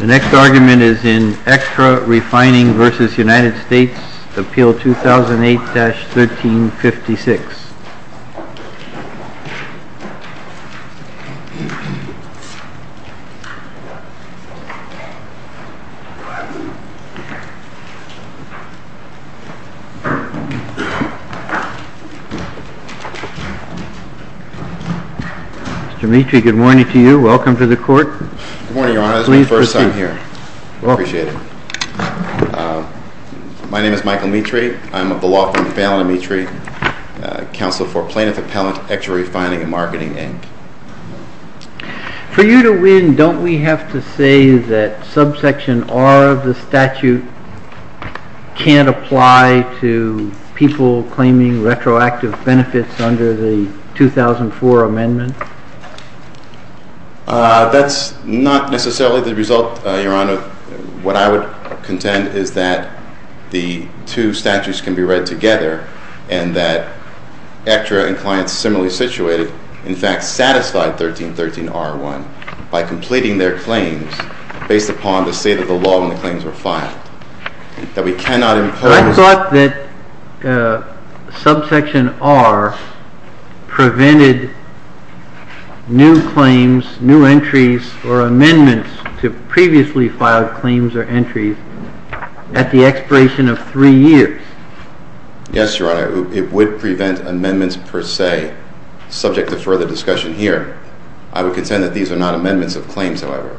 The next argument is in Aectra Refining v. United States, Appeal 2008-1356. Mr. Mitri, good morning to you. Welcome to the Court. Good morning, Your Honor. This is my first time here. I appreciate it. My name is Michael Mitri. I'm a beloved friend of Alan Mitri, Counselor for Plaintiff Appellant, Aectra Refining and Marketing, Inc. For you to win, don't we have to say that subsection R of the statute can't apply to people claiming retroactive benefits under the 2004 amendment? That's not necessarily the result, Your Honor. What I would contend is that the two statutes can be read together and that Aectra and clients similarly situated in fact satisfied 1313R1 by completing their claims based upon the state of the law when the claims were filed. I thought that subsection R prevented new claims, new entries, or amendments to previously filed claims or entries at the expiration of three years. Yes, Your Honor. It would prevent amendments per se subject to further discussion here. I would contend that these are not amendments of claims, however.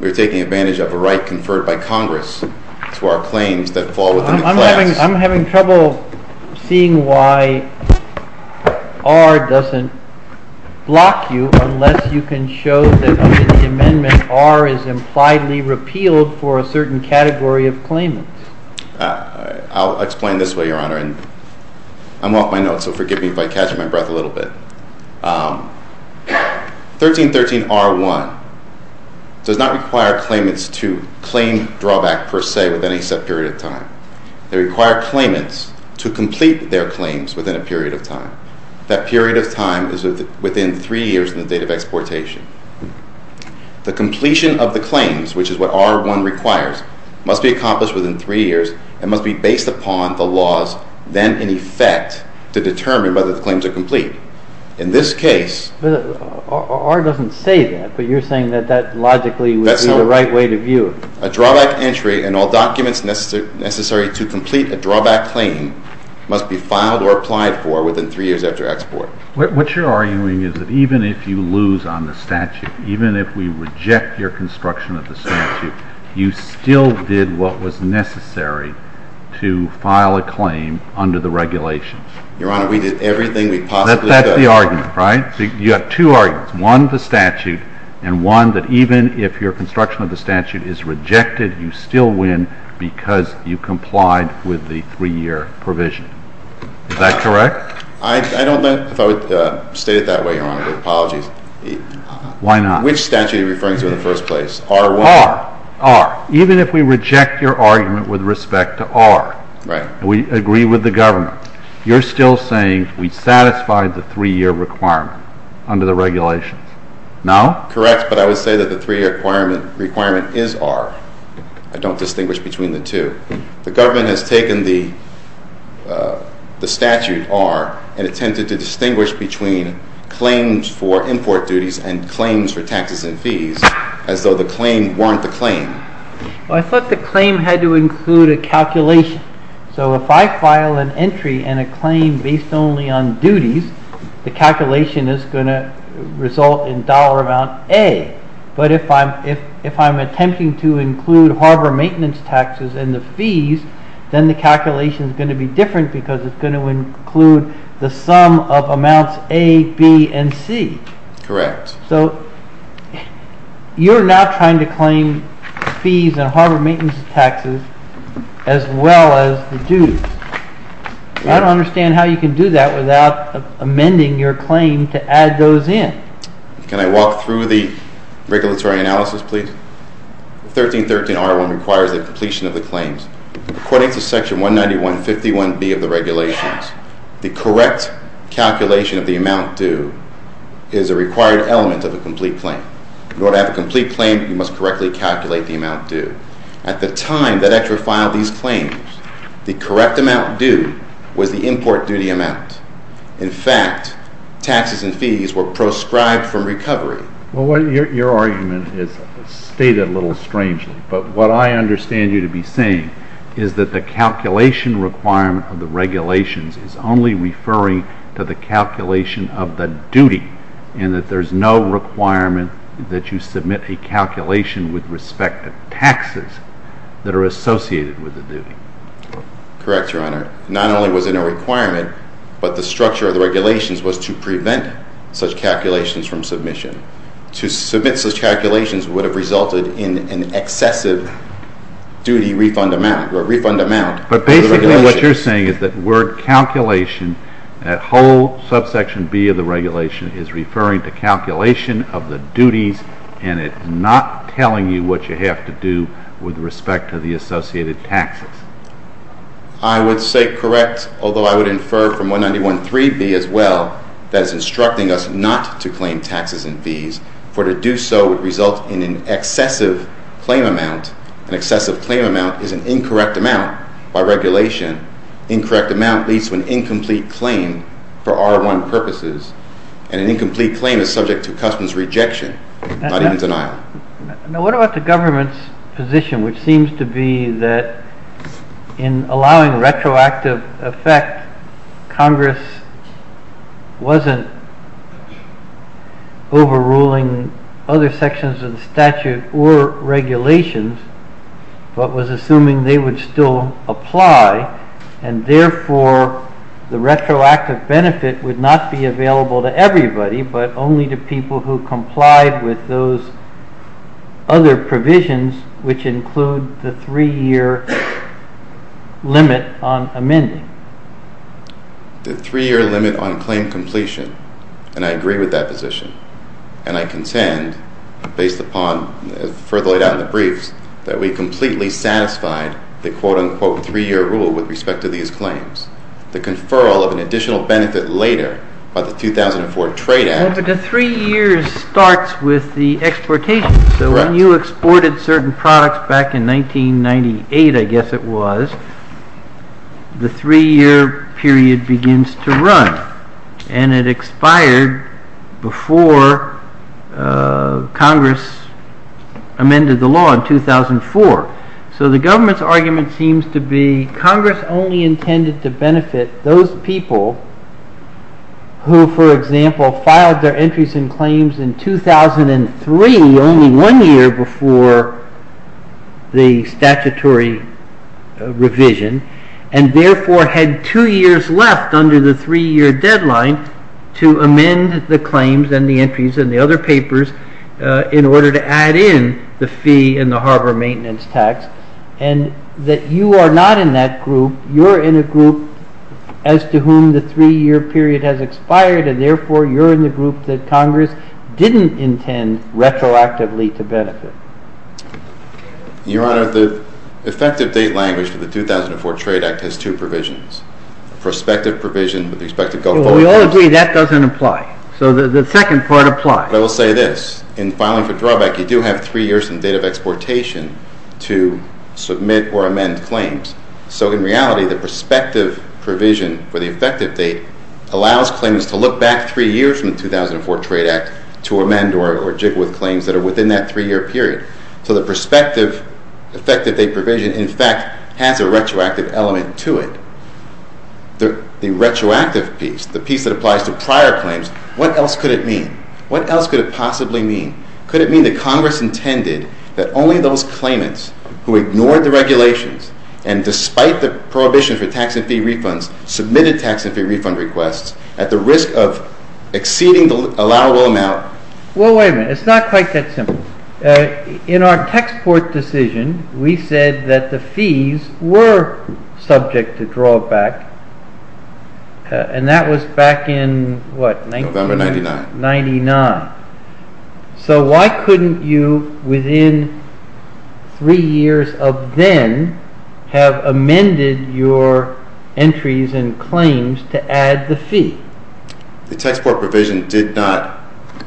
We are taking advantage of a right conferred by Congress to our claims that fall within the class. I'm having trouble seeing why R doesn't block you unless you can show that under the amendment R is impliedly repealed for a certain category of claimants. I'll explain this way, Your Honor. I'm off my notes, so forgive me if I catch my breath a little bit. 1313R1 does not require claimants to claim drawback per se within a set period of time. They require claimants to complete their claims within a period of time. That period of time is within three years in the date of exportation. The completion of the claims, which is what R1 requires, must be accomplished within three years and must be based upon the laws then in effect to determine whether the claims are complete. In this case— R doesn't say that, but you're saying that that logically would be the right way to view it. A drawback entry and all documents necessary to complete a drawback claim must be filed or applied for within three years after export. What you're arguing is that even if you lose on the statute, even if we reject your construction of the statute, you still did what was necessary to file a claim under the regulations. Your Honor, we did everything we possibly could. That's the argument, right? You have two arguments, one the statute and one that even if your construction of the statute is rejected, you still win because you complied with the three-year provision. Is that correct? I don't know if I would state it that way, Your Honor. My apologies. Why not? Which statute are you referring to in the first place? R1? R. R. Even if we reject your argument with respect to R. Right. We agree with the government. You're still saying we satisfied the three-year requirement under the regulations. No? Correct, but I would say that the three-year requirement is R. I don't distinguish between the two. The government has taken the statute, R, and attempted to distinguish between claims for import duties and claims for taxes and fees as though the claim weren't the claim. I thought the claim had to include a calculation. So if I file an entry and a claim based only on duties, the calculation is going to result in dollar amount A. But if I'm attempting to include harbor maintenance taxes and the fees, then the calculation is going to be different because it's going to include the sum of amounts A, B, and C. Correct. So you're now trying to claim fees and harbor maintenance taxes as well as the dues. I don't understand how you can do that without amending your claim to add those in. Can I walk through the regulatory analysis, please? 1313R1 requires the completion of the claims. According to Section 191.51B of the regulations, the correct calculation of the amount due is a required element of a complete claim. In order to have a complete claim, you must correctly calculate the amount due. At the time that Exera filed these claims, the correct amount due was the import duty amount. In fact, taxes and fees were proscribed from recovery. Well, your argument is stated a little strangely, but what I understand you to be saying is that the calculation requirement of the regulations is only referring to the calculation of the duty, and that there's no requirement that you submit a calculation with respect to taxes that are associated with the duty. Correct, Your Honor. Not only was it a requirement, but the structure of the regulations was to prevent such calculations from submission. To submit such calculations would have resulted in an excessive duty refund amount. But basically what you're saying is that word calculation, that whole subsection B of the regulation is referring to calculation of the duties, and it's not telling you what you have to do with respect to the associated taxes. I would say correct, although I would infer from 191.3B as well that it's instructing us not to claim taxes and fees, for to do so would result in an excessive claim amount. An excessive claim amount is an incorrect amount by regulation. Incorrect amount leads to an incomplete claim for R1 purposes, and an incomplete claim is subject to customs rejection, not even denial. Now what about the government's position, which seems to be that in allowing retroactive effect, Congress wasn't overruling other sections of the statute or regulations, but was assuming they would still apply, and therefore the retroactive benefit would not be available to everybody, but only to people who complied with those other provisions, which include the three-year limit on amending. The three-year limit on claim completion, and I agree with that position. And I contend, based upon further laid out in the briefs, that we completely satisfied the quote-unquote three-year rule with respect to these claims. The conferral of an additional benefit later by the 2004 Trade Act… Congress amended the law in 2004. So the government's argument seems to be Congress only intended to benefit those people who, for example, filed their entries and claims in 2003, only one year before the statutory revision, and therefore had two years left under the three-year deadline to amend the claims and the entries and the other papers in order to add in the fee and the harbor maintenance tax, and that you are not in that group. You're in a group as to whom the three-year period has expired, and therefore you're in the group that Congress didn't intend retroactively to benefit. Your Honor, the effective date language for the 2004 Trade Act has two provisions. Prospective provision with respect to… We all agree that doesn't apply. So the second part applies. But I will say this. In filing for drawback, you do have three years in the date of exportation to submit or amend claims. So in reality, the prospective provision for the effective date allows claimants to look back three years from the 2004 Trade Act to amend or jiggle with claims that are within that three-year period. So the prospective effective date provision, in fact, has a retroactive element to it. The retroactive piece, the piece that applies to prior claims, what else could it mean? What else could it possibly mean? Could it mean that Congress intended that only those claimants who ignored the regulations and, despite the prohibition for tax and fee refunds, submitted tax and fee refund requests at the risk of exceeding the allowable amount? Well, wait a minute. It's not quite that simple. In our export decision, we said that the fees were subject to drawback, and that was back in what? November 1999. 1999. So why couldn't you, within three years of then, have amended your entries and claims to add the fee? The tax port provision did not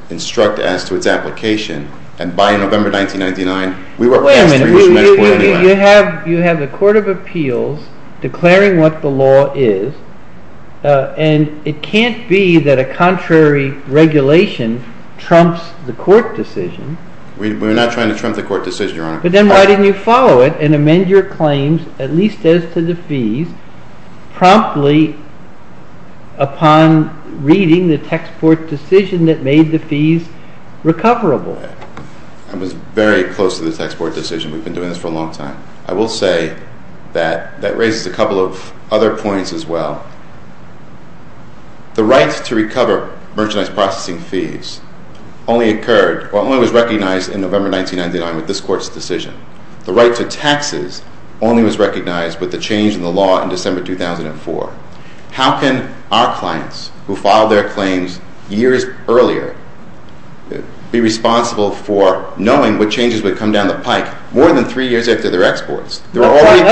instruct as to its application, and by November 1999, we were past three years from that point anyway. Wait a minute. You have the Court of Appeals declaring what the law is, and it can't be that a contrary regulation trumps the court decision. We're not trying to trump the court decision, Your Honor. But then why didn't you follow it and amend your claims, at least as to the fees, promptly upon reading the tax port decision that made the fees recoverable? I was very close to the tax port decision. We've been doing this for a long time. I will say that that raises a couple of other points as well. The right to recover merchandise processing fees only occurred or only was recognized in November 1999 with this Court's decision. The right to taxes only was recognized with the change in the law in December 2004. How can our clients, who filed their claims years earlier, be responsible for knowing what changes would come down the pike more than three years after their exports? That's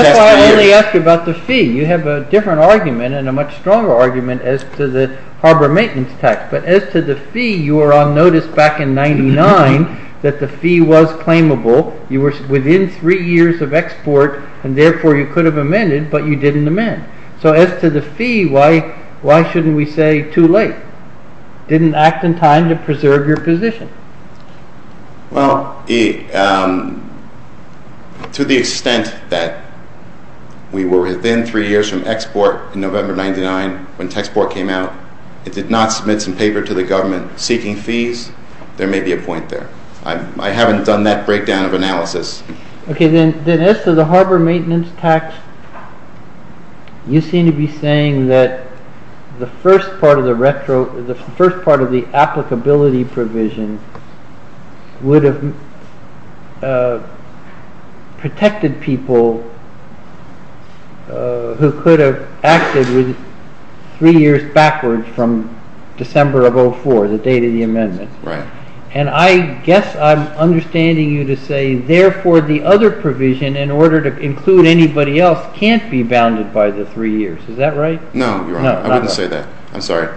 why I only asked about the fee. You have a different argument and a much stronger argument as to the harbor maintenance tax. But as to the fee, you were on notice back in 1999 that the fee was claimable. You were within three years of export, and therefore you could have amended, but you didn't amend. So as to the fee, why shouldn't we say too late? It didn't act in time to preserve your position. Well, to the extent that we were within three years from export in November 1999 when the tax port came out, it did not submit some paper to the government seeking fees. There may be a point there. I haven't done that breakdown of analysis. Okay, then as to the harbor maintenance tax, you seem to be saying that the first part of the applicability provision would have protected people who could have acted three years backwards from December of 2004, the date of the amendment. Right. And I guess I'm understanding you to say, therefore, the other provision, in order to include anybody else, can't be bounded by the three years. Is that right? No, Your Honor. I wouldn't say that. I'm sorry.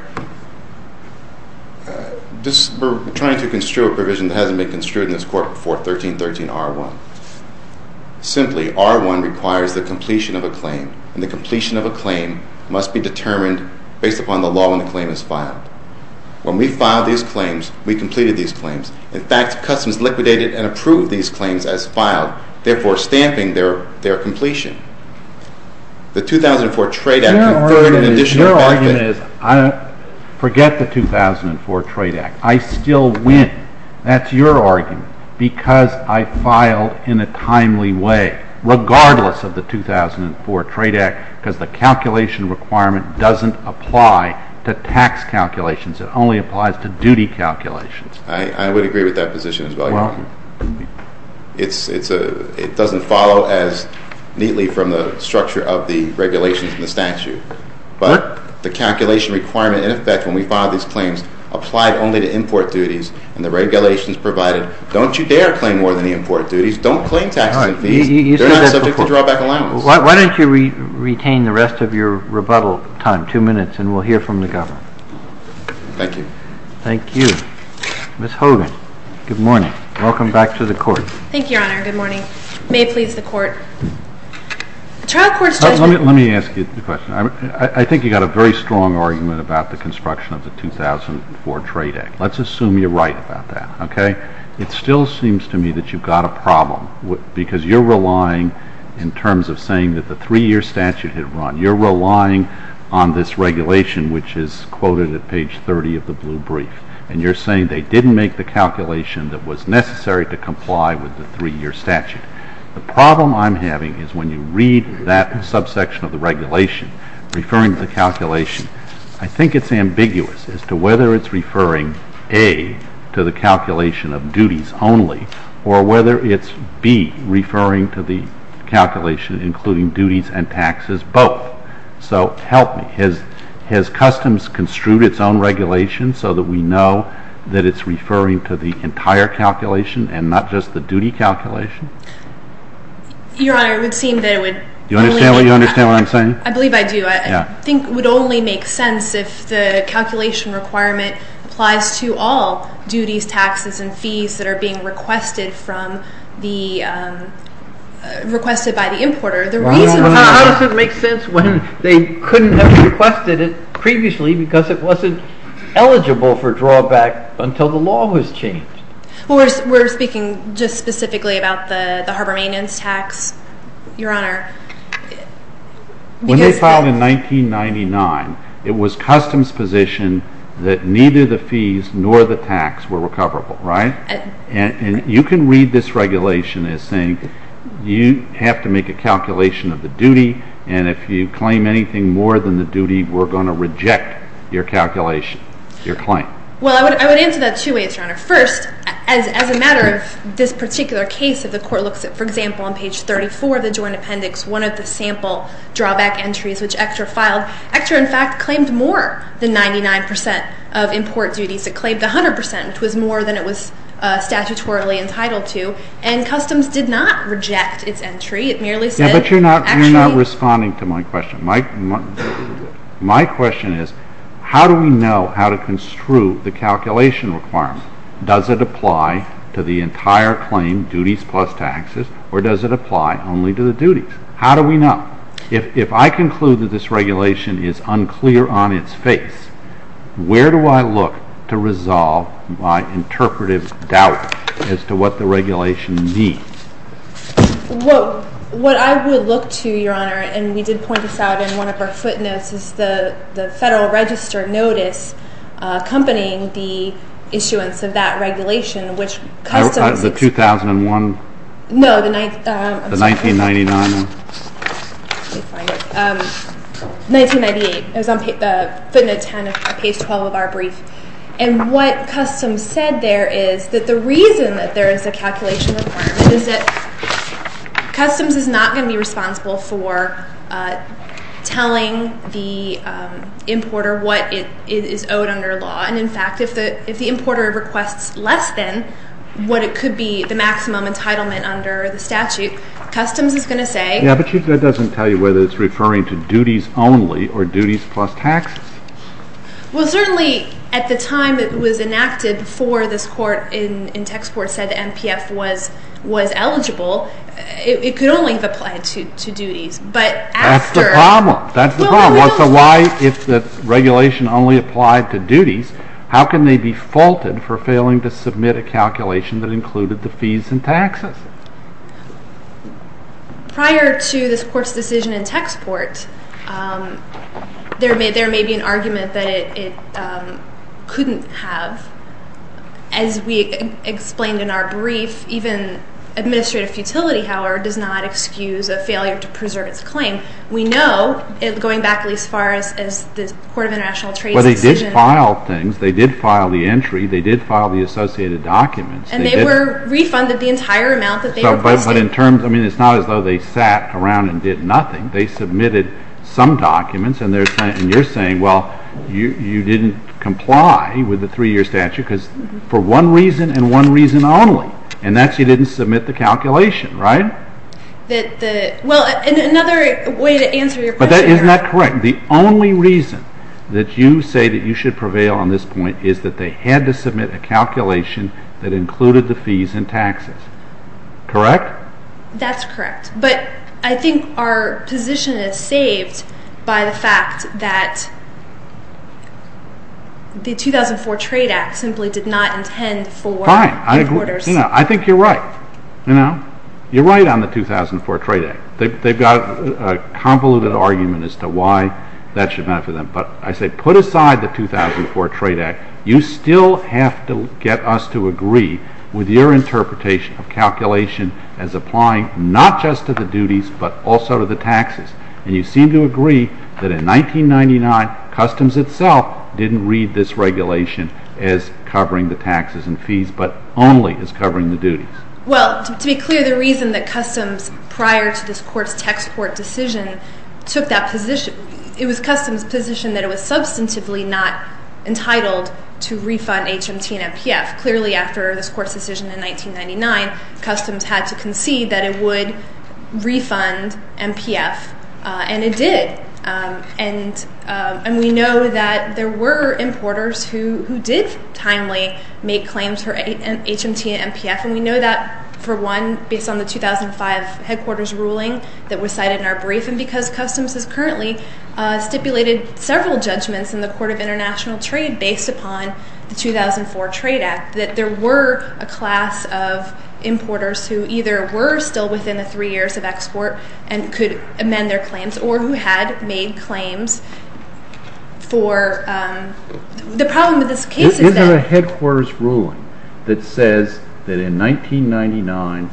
We're trying to construe a provision that hasn't been construed in this Court before 1313R1. Simply, R1 requires the completion of a claim, and the completion of a claim must be determined based upon the law when the claim is filed. When we filed these claims, we completed these claims. In fact, Customs liquidated and approved these claims as filed, therefore stamping their completion. The 2004 Trade Act— Your argument is, forget the 2004 Trade Act. I still win. That's your argument, because I filed in a timely way, regardless of the 2004 Trade Act, because the calculation requirement doesn't apply to tax calculations. It only applies to duty calculations. I would agree with that position as well, Your Honor. It doesn't follow as neatly from the structure of the regulations in the statute. But the calculation requirement, in effect, when we filed these claims, applied only to import duties. And the regulations provided, don't you dare claim more than the import duties. Don't claim taxes and fees. They're not subject to drawback allowance. Why don't you retain the rest of your rebuttal time, two minutes, and we'll hear from the Governor. Thank you. Thank you. Ms. Hogan, good morning. Welcome back to the Court. Thank you, Your Honor. Good morning. May it please the Court. The trial court's judgment— Let me ask you a question. I think you've got a very strong argument about the construction of the 2004 Trade Act. Let's assume you're right about that, okay? It still seems to me that you've got a problem, because you're relying, in terms of saying that the three-year statute had run, you're relying on this regulation, which is quoted at page 30 of the blue brief. And you're saying they didn't make the calculation that was necessary to comply with the three-year statute. The problem I'm having is when you read that subsection of the regulation, referring to the calculation, I think it's ambiguous as to whether it's referring, A, to the calculation of duties only, or whether it's, B, referring to the calculation including duties and taxes both. So help me. Has Customs construed its own regulation so that we know that it's referring to the entire calculation and not just the duty calculation? Your Honor, it would seem that it would— Do you understand what I'm saying? I believe I do. I think it would only make sense if the calculation requirement applies to all duties, taxes, and fees that are being requested by the importer. How does it make sense when they couldn't have requested it previously because it wasn't eligible for drawback until the law was changed? Well, we're speaking just specifically about the Harbourmanians tax, Your Honor. When they filed in 1999, it was Customs' position that neither the fees nor the tax were recoverable, right? And you can read this regulation as saying you have to make a calculation of the duty, and if you claim anything more than the duty, we're going to reject your calculation, your claim. Well, I would answer that two ways, Your Honor. First, as a matter of this particular case, if the Court looks at, for example, on page 34 of the Joint Appendix, one of the sample drawback entries which ECTRA filed, ECTRA, in fact, claimed more than 99 percent of import duties. It claimed 100 percent, which was more than it was statutorily entitled to, and Customs did not reject its entry. It merely said— Yeah, but you're not responding to my question. My question is, how do we know how to construe the calculation requirement? Does it apply to the entire claim, duties plus taxes, or does it apply only to the duties? How do we know? If I conclude that this regulation is unclear on its face, where do I look to resolve my interpretive doubt as to what the regulation means? Well, what I would look to, Your Honor, and we did point this out in one of our footnotes, is the Federal Register Notice accompanying the issuance of that regulation, which Customs— The 2001? No, the— The 1999. Let me find it. 1998. It was on footnote 10 of page 12 of our brief. And what Customs said there is that the reason that there is a calculation requirement is that Customs is not going to be responsible for telling the importer what is owed under law. And, in fact, if the importer requests less than what it could be, the maximum entitlement under the statute, Customs is going to say— Yeah, but Chief, that doesn't tell you whether it's referring to duties only or duties plus taxes. Well, certainly at the time it was enacted, before this court in Texport said the NPF was eligible, it could only have applied to duties. But after— That's the problem. That's the problem. So why, if the regulation only applied to duties, how can they be faulted for failing to submit a calculation that included the fees and taxes? Prior to this court's decision in Texport, there may be an argument that it couldn't have. As we explained in our brief, even administrative futility, however, does not excuse a failure to preserve its claim. We know, going back at least as far as the Court of International Trade's decision— Well, they did file things. They did file the entry. They did file the associated documents. And they were refunded the entire amount that they requested. But in terms—I mean, it's not as though they sat around and did nothing. They submitted some documents, and you're saying, well, you didn't comply with the three-year statute for one reason and one reason only, and that's you didn't submit the calculation, right? Well, another way to answer your question— But isn't that correct? The only reason that you say that you should prevail on this point is that they had to submit a calculation that included the fees and taxes. Correct? That's correct. But I think our position is saved by the fact that the 2004 Trade Act simply did not intend for importers— But I say, put aside the 2004 Trade Act. You still have to get us to agree with your interpretation of calculation as applying not just to the duties but also to the taxes. And you seem to agree that in 1999, customs itself didn't read this regulation as covering the taxes and fees but only as covering the duties. Well, to be clear, the reason that customs, prior to this Court's text court decision, took that position—it was customs' position that it was substantively not entitled to refund HMT and MPF. Clearly, after this Court's decision in 1999, customs had to concede that it would refund MPF, and it did. And we know that there were importers who did timely make claims for HMT and MPF, and we know that, for one, based on the 2005 headquarters ruling that was cited in our brief, and because customs has currently stipulated several judgments in the Court of International Trade based upon the 2004 Trade Act, that there were a class of importers who either were still within the three years of export and could amend their claims or who had made claims for—the problem with this case is that— Isn't there a headquarters ruling that says that in 1999,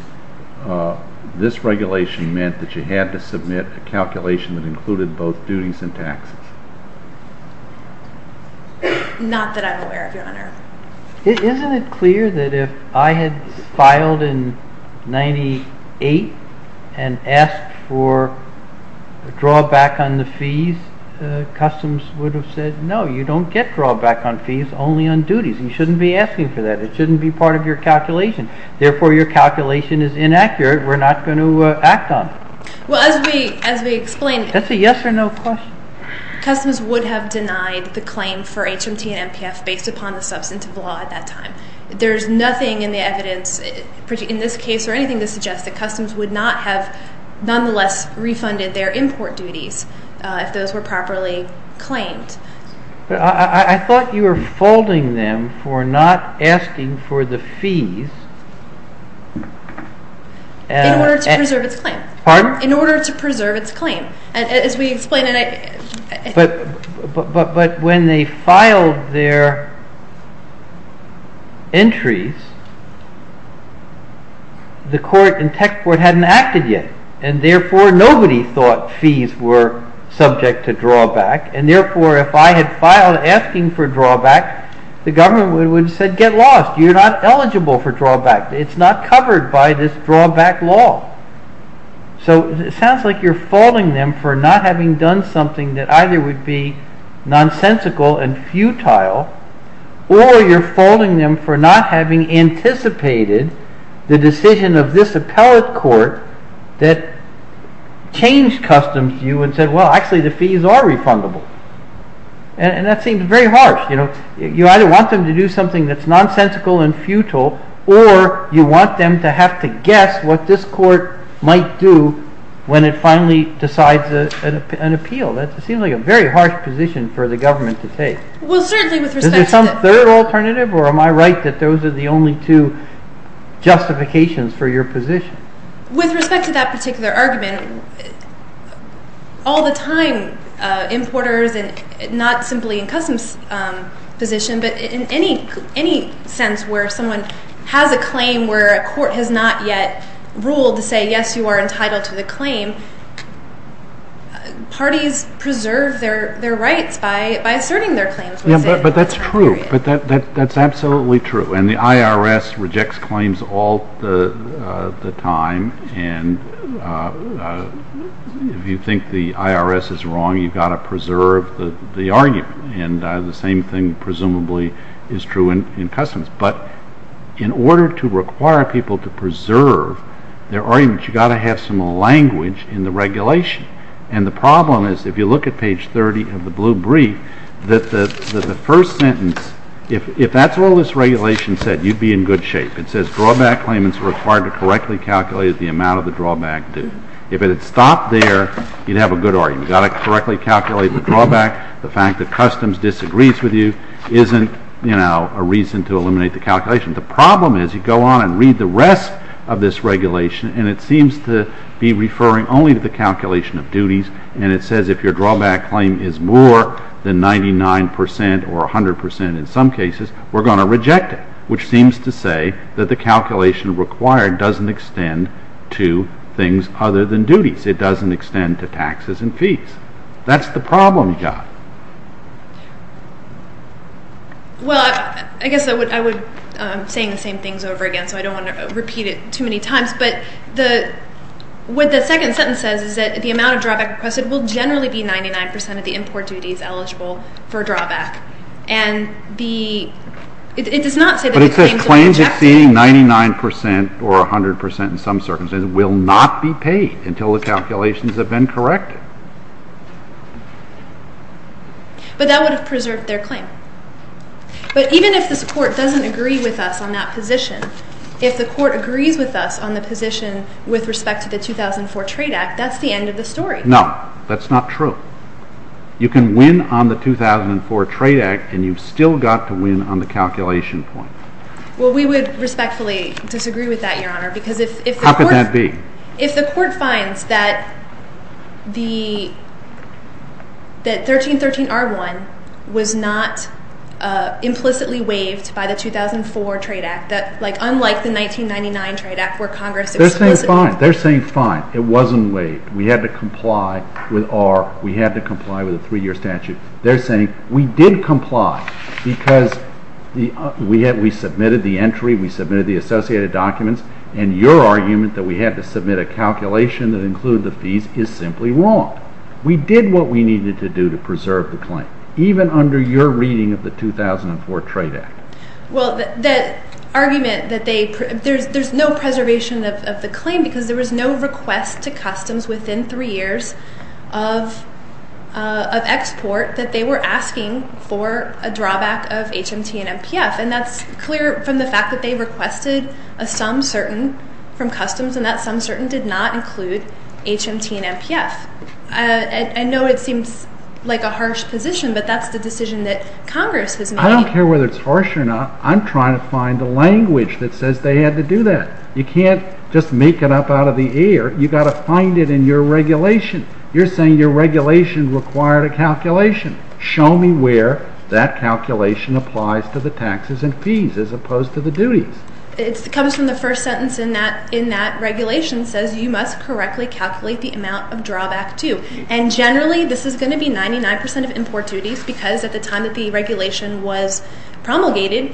this regulation meant that you had to submit a calculation that included both duties and taxes? Not that I'm aware of, Your Honor. Isn't it clear that if I had filed in 1998 and asked for drawback on the fees, customs would have said, No, you don't get drawback on fees, only on duties. You shouldn't be asking for that. It shouldn't be part of your calculation. Therefore, your calculation is inaccurate. We're not going to act on it. Well, as we explained— That's a yes or no question. Customs would have denied the claim for HMT and NPF based upon the substantive law at that time. There's nothing in the evidence in this case or anything that suggests that customs would not have nonetheless refunded their import duties if those were properly claimed. I thought you were folding them for not asking for the fees. Pardon? But when they filed their entries, the court and tech court hadn't acted yet. And therefore, nobody thought fees were subject to drawback. And therefore, if I had filed asking for drawback, the government would have said, Get lost. You're not eligible for drawback. It's not covered by this drawback law. So it sounds like you're folding them for not having done something that either would be nonsensical and futile, or you're folding them for not having anticipated the decision of this appellate court that changed customs to you and said, Well, actually, the fees are refundable. And that seems very harsh. You know, you either want them to do something that's nonsensical and futile, or you want them to have to guess what this court might do when it finally decides an appeal. That seems like a very harsh position for the government to take. Well, certainly with respect to... Is there some third alternative? Or am I right that those are the only two justifications for your position? With respect to that particular argument, all the time, importers, and not simply in customs position, but in any sense where someone has a claim where a court has not yet ruled to say, Yes, you are entitled to the claim, parties preserve their rights by asserting their claims. But that's true. That's absolutely true. And the IRS rejects claims all the time. And if you think the IRS is wrong, you've got to preserve the argument. And the same thing presumably is true in customs. But in order to require people to preserve their arguments, you've got to have some language in the regulation. And the problem is, if you look at page 30 of the blue brief, that the first sentence, if that's all this regulation said, you'd be in good shape. It says drawback claimants are required to correctly calculate the amount of the drawback due. If it had stopped there, you'd have a good argument. You've got to correctly calculate the drawback. The fact that customs disagrees with you isn't a reason to eliminate the calculation. The problem is, you go on and read the rest of this regulation, and it seems to be referring only to the calculation of duties. And it says if your drawback claim is more than 99 percent or 100 percent in some cases, we're going to reject it, which seems to say that the calculation required doesn't extend to things other than duties. It doesn't extend to taxes and fees. That's the problem you've got. Well, I guess I would be saying the same things over again, so I don't want to repeat it too many times. But what the second sentence says is that the amount of drawback requested will generally be 99 percent of the import duties eligible for drawback. And it does not say that the claim is rejected. But it says claims exceeding 99 percent or 100 percent in some circumstances will not be paid until the calculations have been corrected. But that would have preserved their claim. But even if this Court doesn't agree with us on that position, if the Court agrees with us on the position with respect to the 2004 Trade Act, that's the end of the story. No, that's not true. You can win on the 2004 Trade Act, and you've still got to win on the calculation point. Well, we would respectfully disagree with that, Your Honor, because if the Court— If the Court finds that 1313R1 was not implicitly waived by the 2004 Trade Act, that unlike the 1999 Trade Act where Congress explicitly— They're saying fine. They're saying fine. It wasn't waived. We had to comply with our—we had to comply with a three-year statute. They're saying we did comply because we submitted the entry, we submitted the associated documents, and your argument that we had to submit a calculation that included the fees is simply wrong. We did what we needed to do to preserve the claim, even under your reading of the 2004 Trade Act. Well, the argument that they—there's no preservation of the claim because there was no request to customs within three years of export that they were asking for a drawback of HMT and MPF. And that's clear from the fact that they requested a sum certain from customs, and that sum certain did not include HMT and MPF. I know it seems like a harsh position, but that's the decision that Congress has made. I don't care whether it's harsh or not. I'm trying to find the language that says they had to do that. You can't just make it up out of the air. You've got to find it in your regulation. You're saying your regulation required a calculation. Show me where that calculation applies to the taxes and fees as opposed to the duties. It comes from the first sentence in that regulation says you must correctly calculate the amount of drawback, too. And generally, this is going to be 99 percent of import duties because at the time that the regulation was promulgated,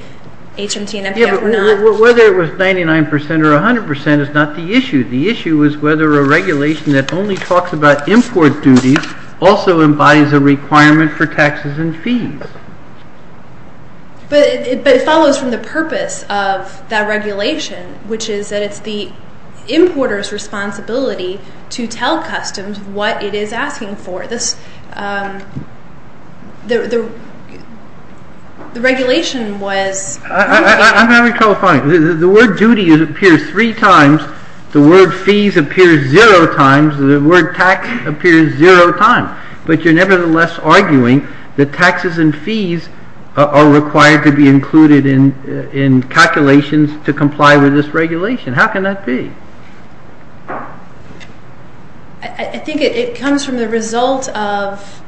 HMT and MPF were not. Yeah, but whether it was 99 percent or 100 percent is not the issue. The issue is whether a regulation that only talks about import duties also embodies a requirement for taxes and fees. But it follows from the purpose of that regulation, which is that it's the importer's responsibility to tell customs what it is asking for. I'm having trouble finding it. The word duty appears three times. The word fees appears zero times. The word tax appears zero times. But you're nevertheless arguing that taxes and fees are required to be included in calculations to comply with this regulation. How can that be? I think it comes from the result of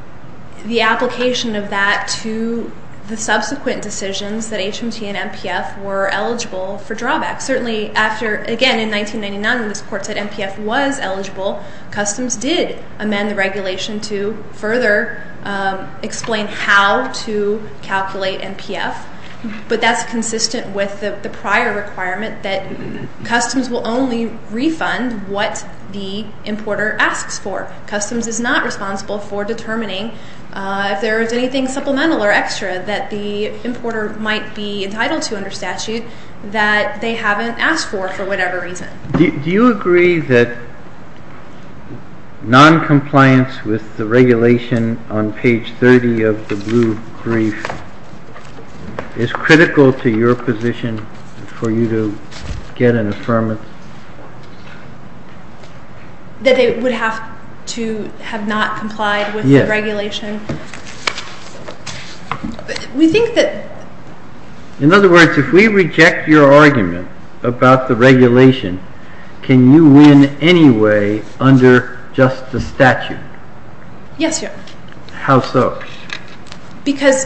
the application of that to the subsequent decisions that HMT and MPF were eligible for drawback. Certainly after, again, in 1999 when this court said MPF was eligible, customs did amend the regulation to further explain how to calculate MPF. But that's consistent with the prior requirement that customs will only refund what the importer asks for. Customs is not responsible for determining if there is anything supplemental or extra that the importer might be entitled to under statute that they haven't asked for for whatever reason. Do you agree that noncompliance with the regulation on page 30 of the blue brief is critical to your position for you to get an affirmance? That they would have to have not complied with the regulation? In other words, if we reject your argument about the regulation, can you win anyway under just the statute? Yes, Your Honor. How so? Because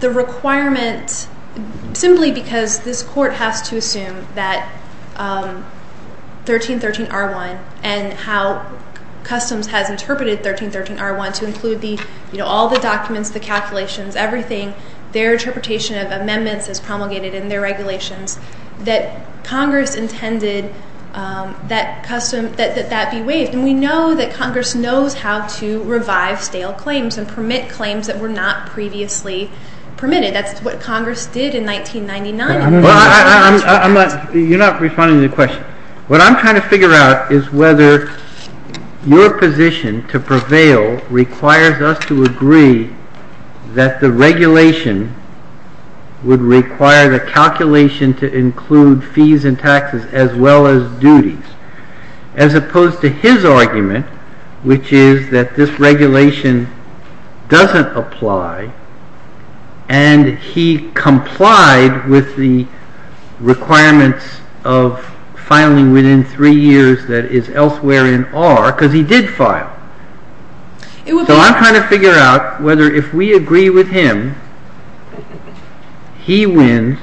the requirement, simply because this court has to assume that 1313R1 and how customs has interpreted 1313R1 to include all the documents, the calculations, everything, their interpretation of amendments as promulgated in their regulations, that Congress intended that that be waived. And we know that Congress knows how to revive stale claims and permit claims that were not previously permitted. That's what Congress did in 1999. You're not responding to the question. What I'm trying to figure out is whether your position to prevail requires us to agree that the regulation would require the calculation to include fees and taxes as well as duties. As opposed to his argument, which is that this regulation doesn't apply and he complied with the requirements of filing within three years that is elsewhere in R, because he did file. So I'm trying to figure out whether if we agree with him, he wins,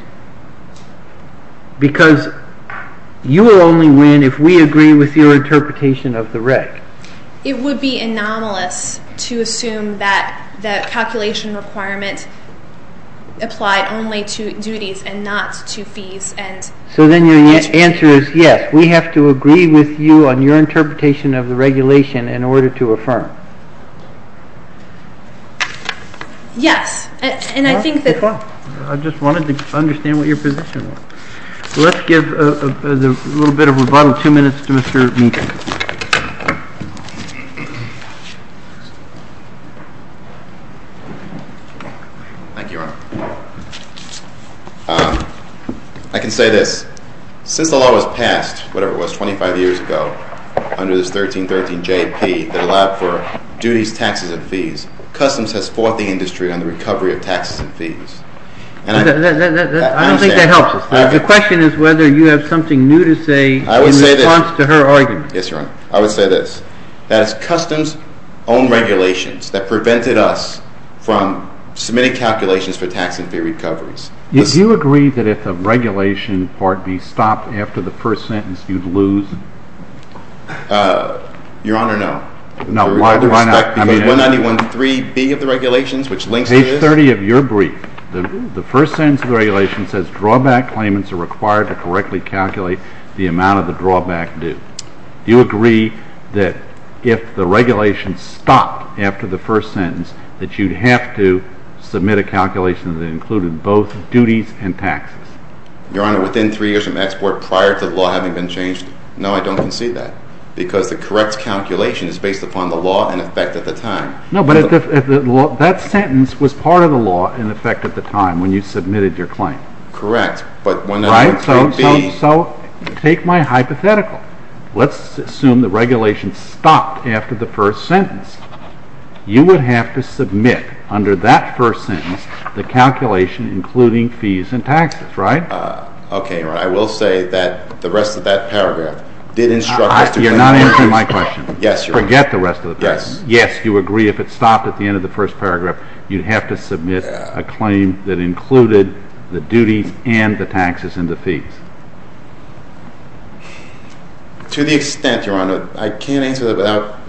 because you will only win if we agree with your interpretation of the REC. It would be anomalous to assume that the calculation requirement applied only to duties and not to fees. So then your answer is yes. We have to agree with you on your interpretation of the regulation in order to affirm. Yes. I just wanted to understand what your position was. Let's give a little bit of rebuttal. Thank you, Your Honor. I can say this. Since the law was passed, whatever it was, 25 years ago, under this 1313JP that allowed for duties, taxes, and fees, Customs has fought the industry on the recovery of taxes and fees. I don't think that helps us. The question is whether you have something new to say in response to her argument. Yes, Your Honor. I would say this. That it's Customs' own regulations that prevented us from submitting calculations for tax and fee recoveries. Do you agree that if the regulation part B stopped after the first sentence, you'd lose? Your Honor, no. No, why not? Because 191.3B of the regulations, which links to this— Page 30 of your brief, the first sentence of the regulation says drawback claimants are required to correctly calculate the amount of the drawback due. Do you agree that if the regulation stopped after the first sentence, that you'd have to submit a calculation that included both duties and taxes? Your Honor, within three years of export, prior to the law having been changed, no, I don't concede that. Because the correct calculation is based upon the law in effect at the time. No, but that sentence was part of the law in effect at the time when you submitted your claim. Correct, but 191.3B— If so, take my hypothetical. Let's assume the regulation stopped after the first sentence. You would have to submit under that first sentence the calculation including fees and taxes, right? Okay, Your Honor. I will say that the rest of that paragraph did instruct us to— You're not answering my question. Yes, Your Honor. Forget the rest of the paragraph. Yes. Yes, you agree if it stopped at the end of the first paragraph, you'd have to submit a claim that included the duties and the taxes and the fees. To the extent, Your Honor, I can't answer that without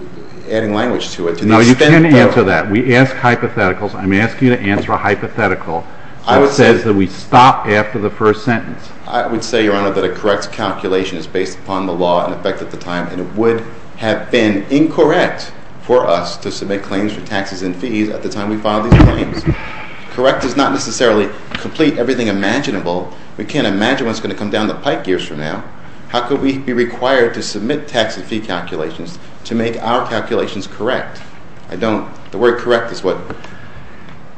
adding language to it. No, you can't answer that. We asked hypotheticals. I'm asking you to answer a hypothetical that says that we stopped after the first sentence. I would say, Your Honor, that a correct calculation is based upon the law in effect at the time, and it would have been incorrect for us to submit claims for taxes and fees at the time we filed these claims. Correct does not necessarily complete everything imaginable. We can't imagine what's going to come down the pike ears from now. How could we be required to submit taxes and fee calculations to make our calculations correct? I don't—the word correct is what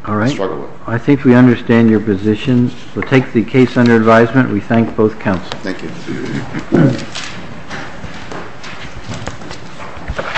I struggle with. All right. I think we understand your position. We'll take the case under advisement. We thank both counsels. Thank you.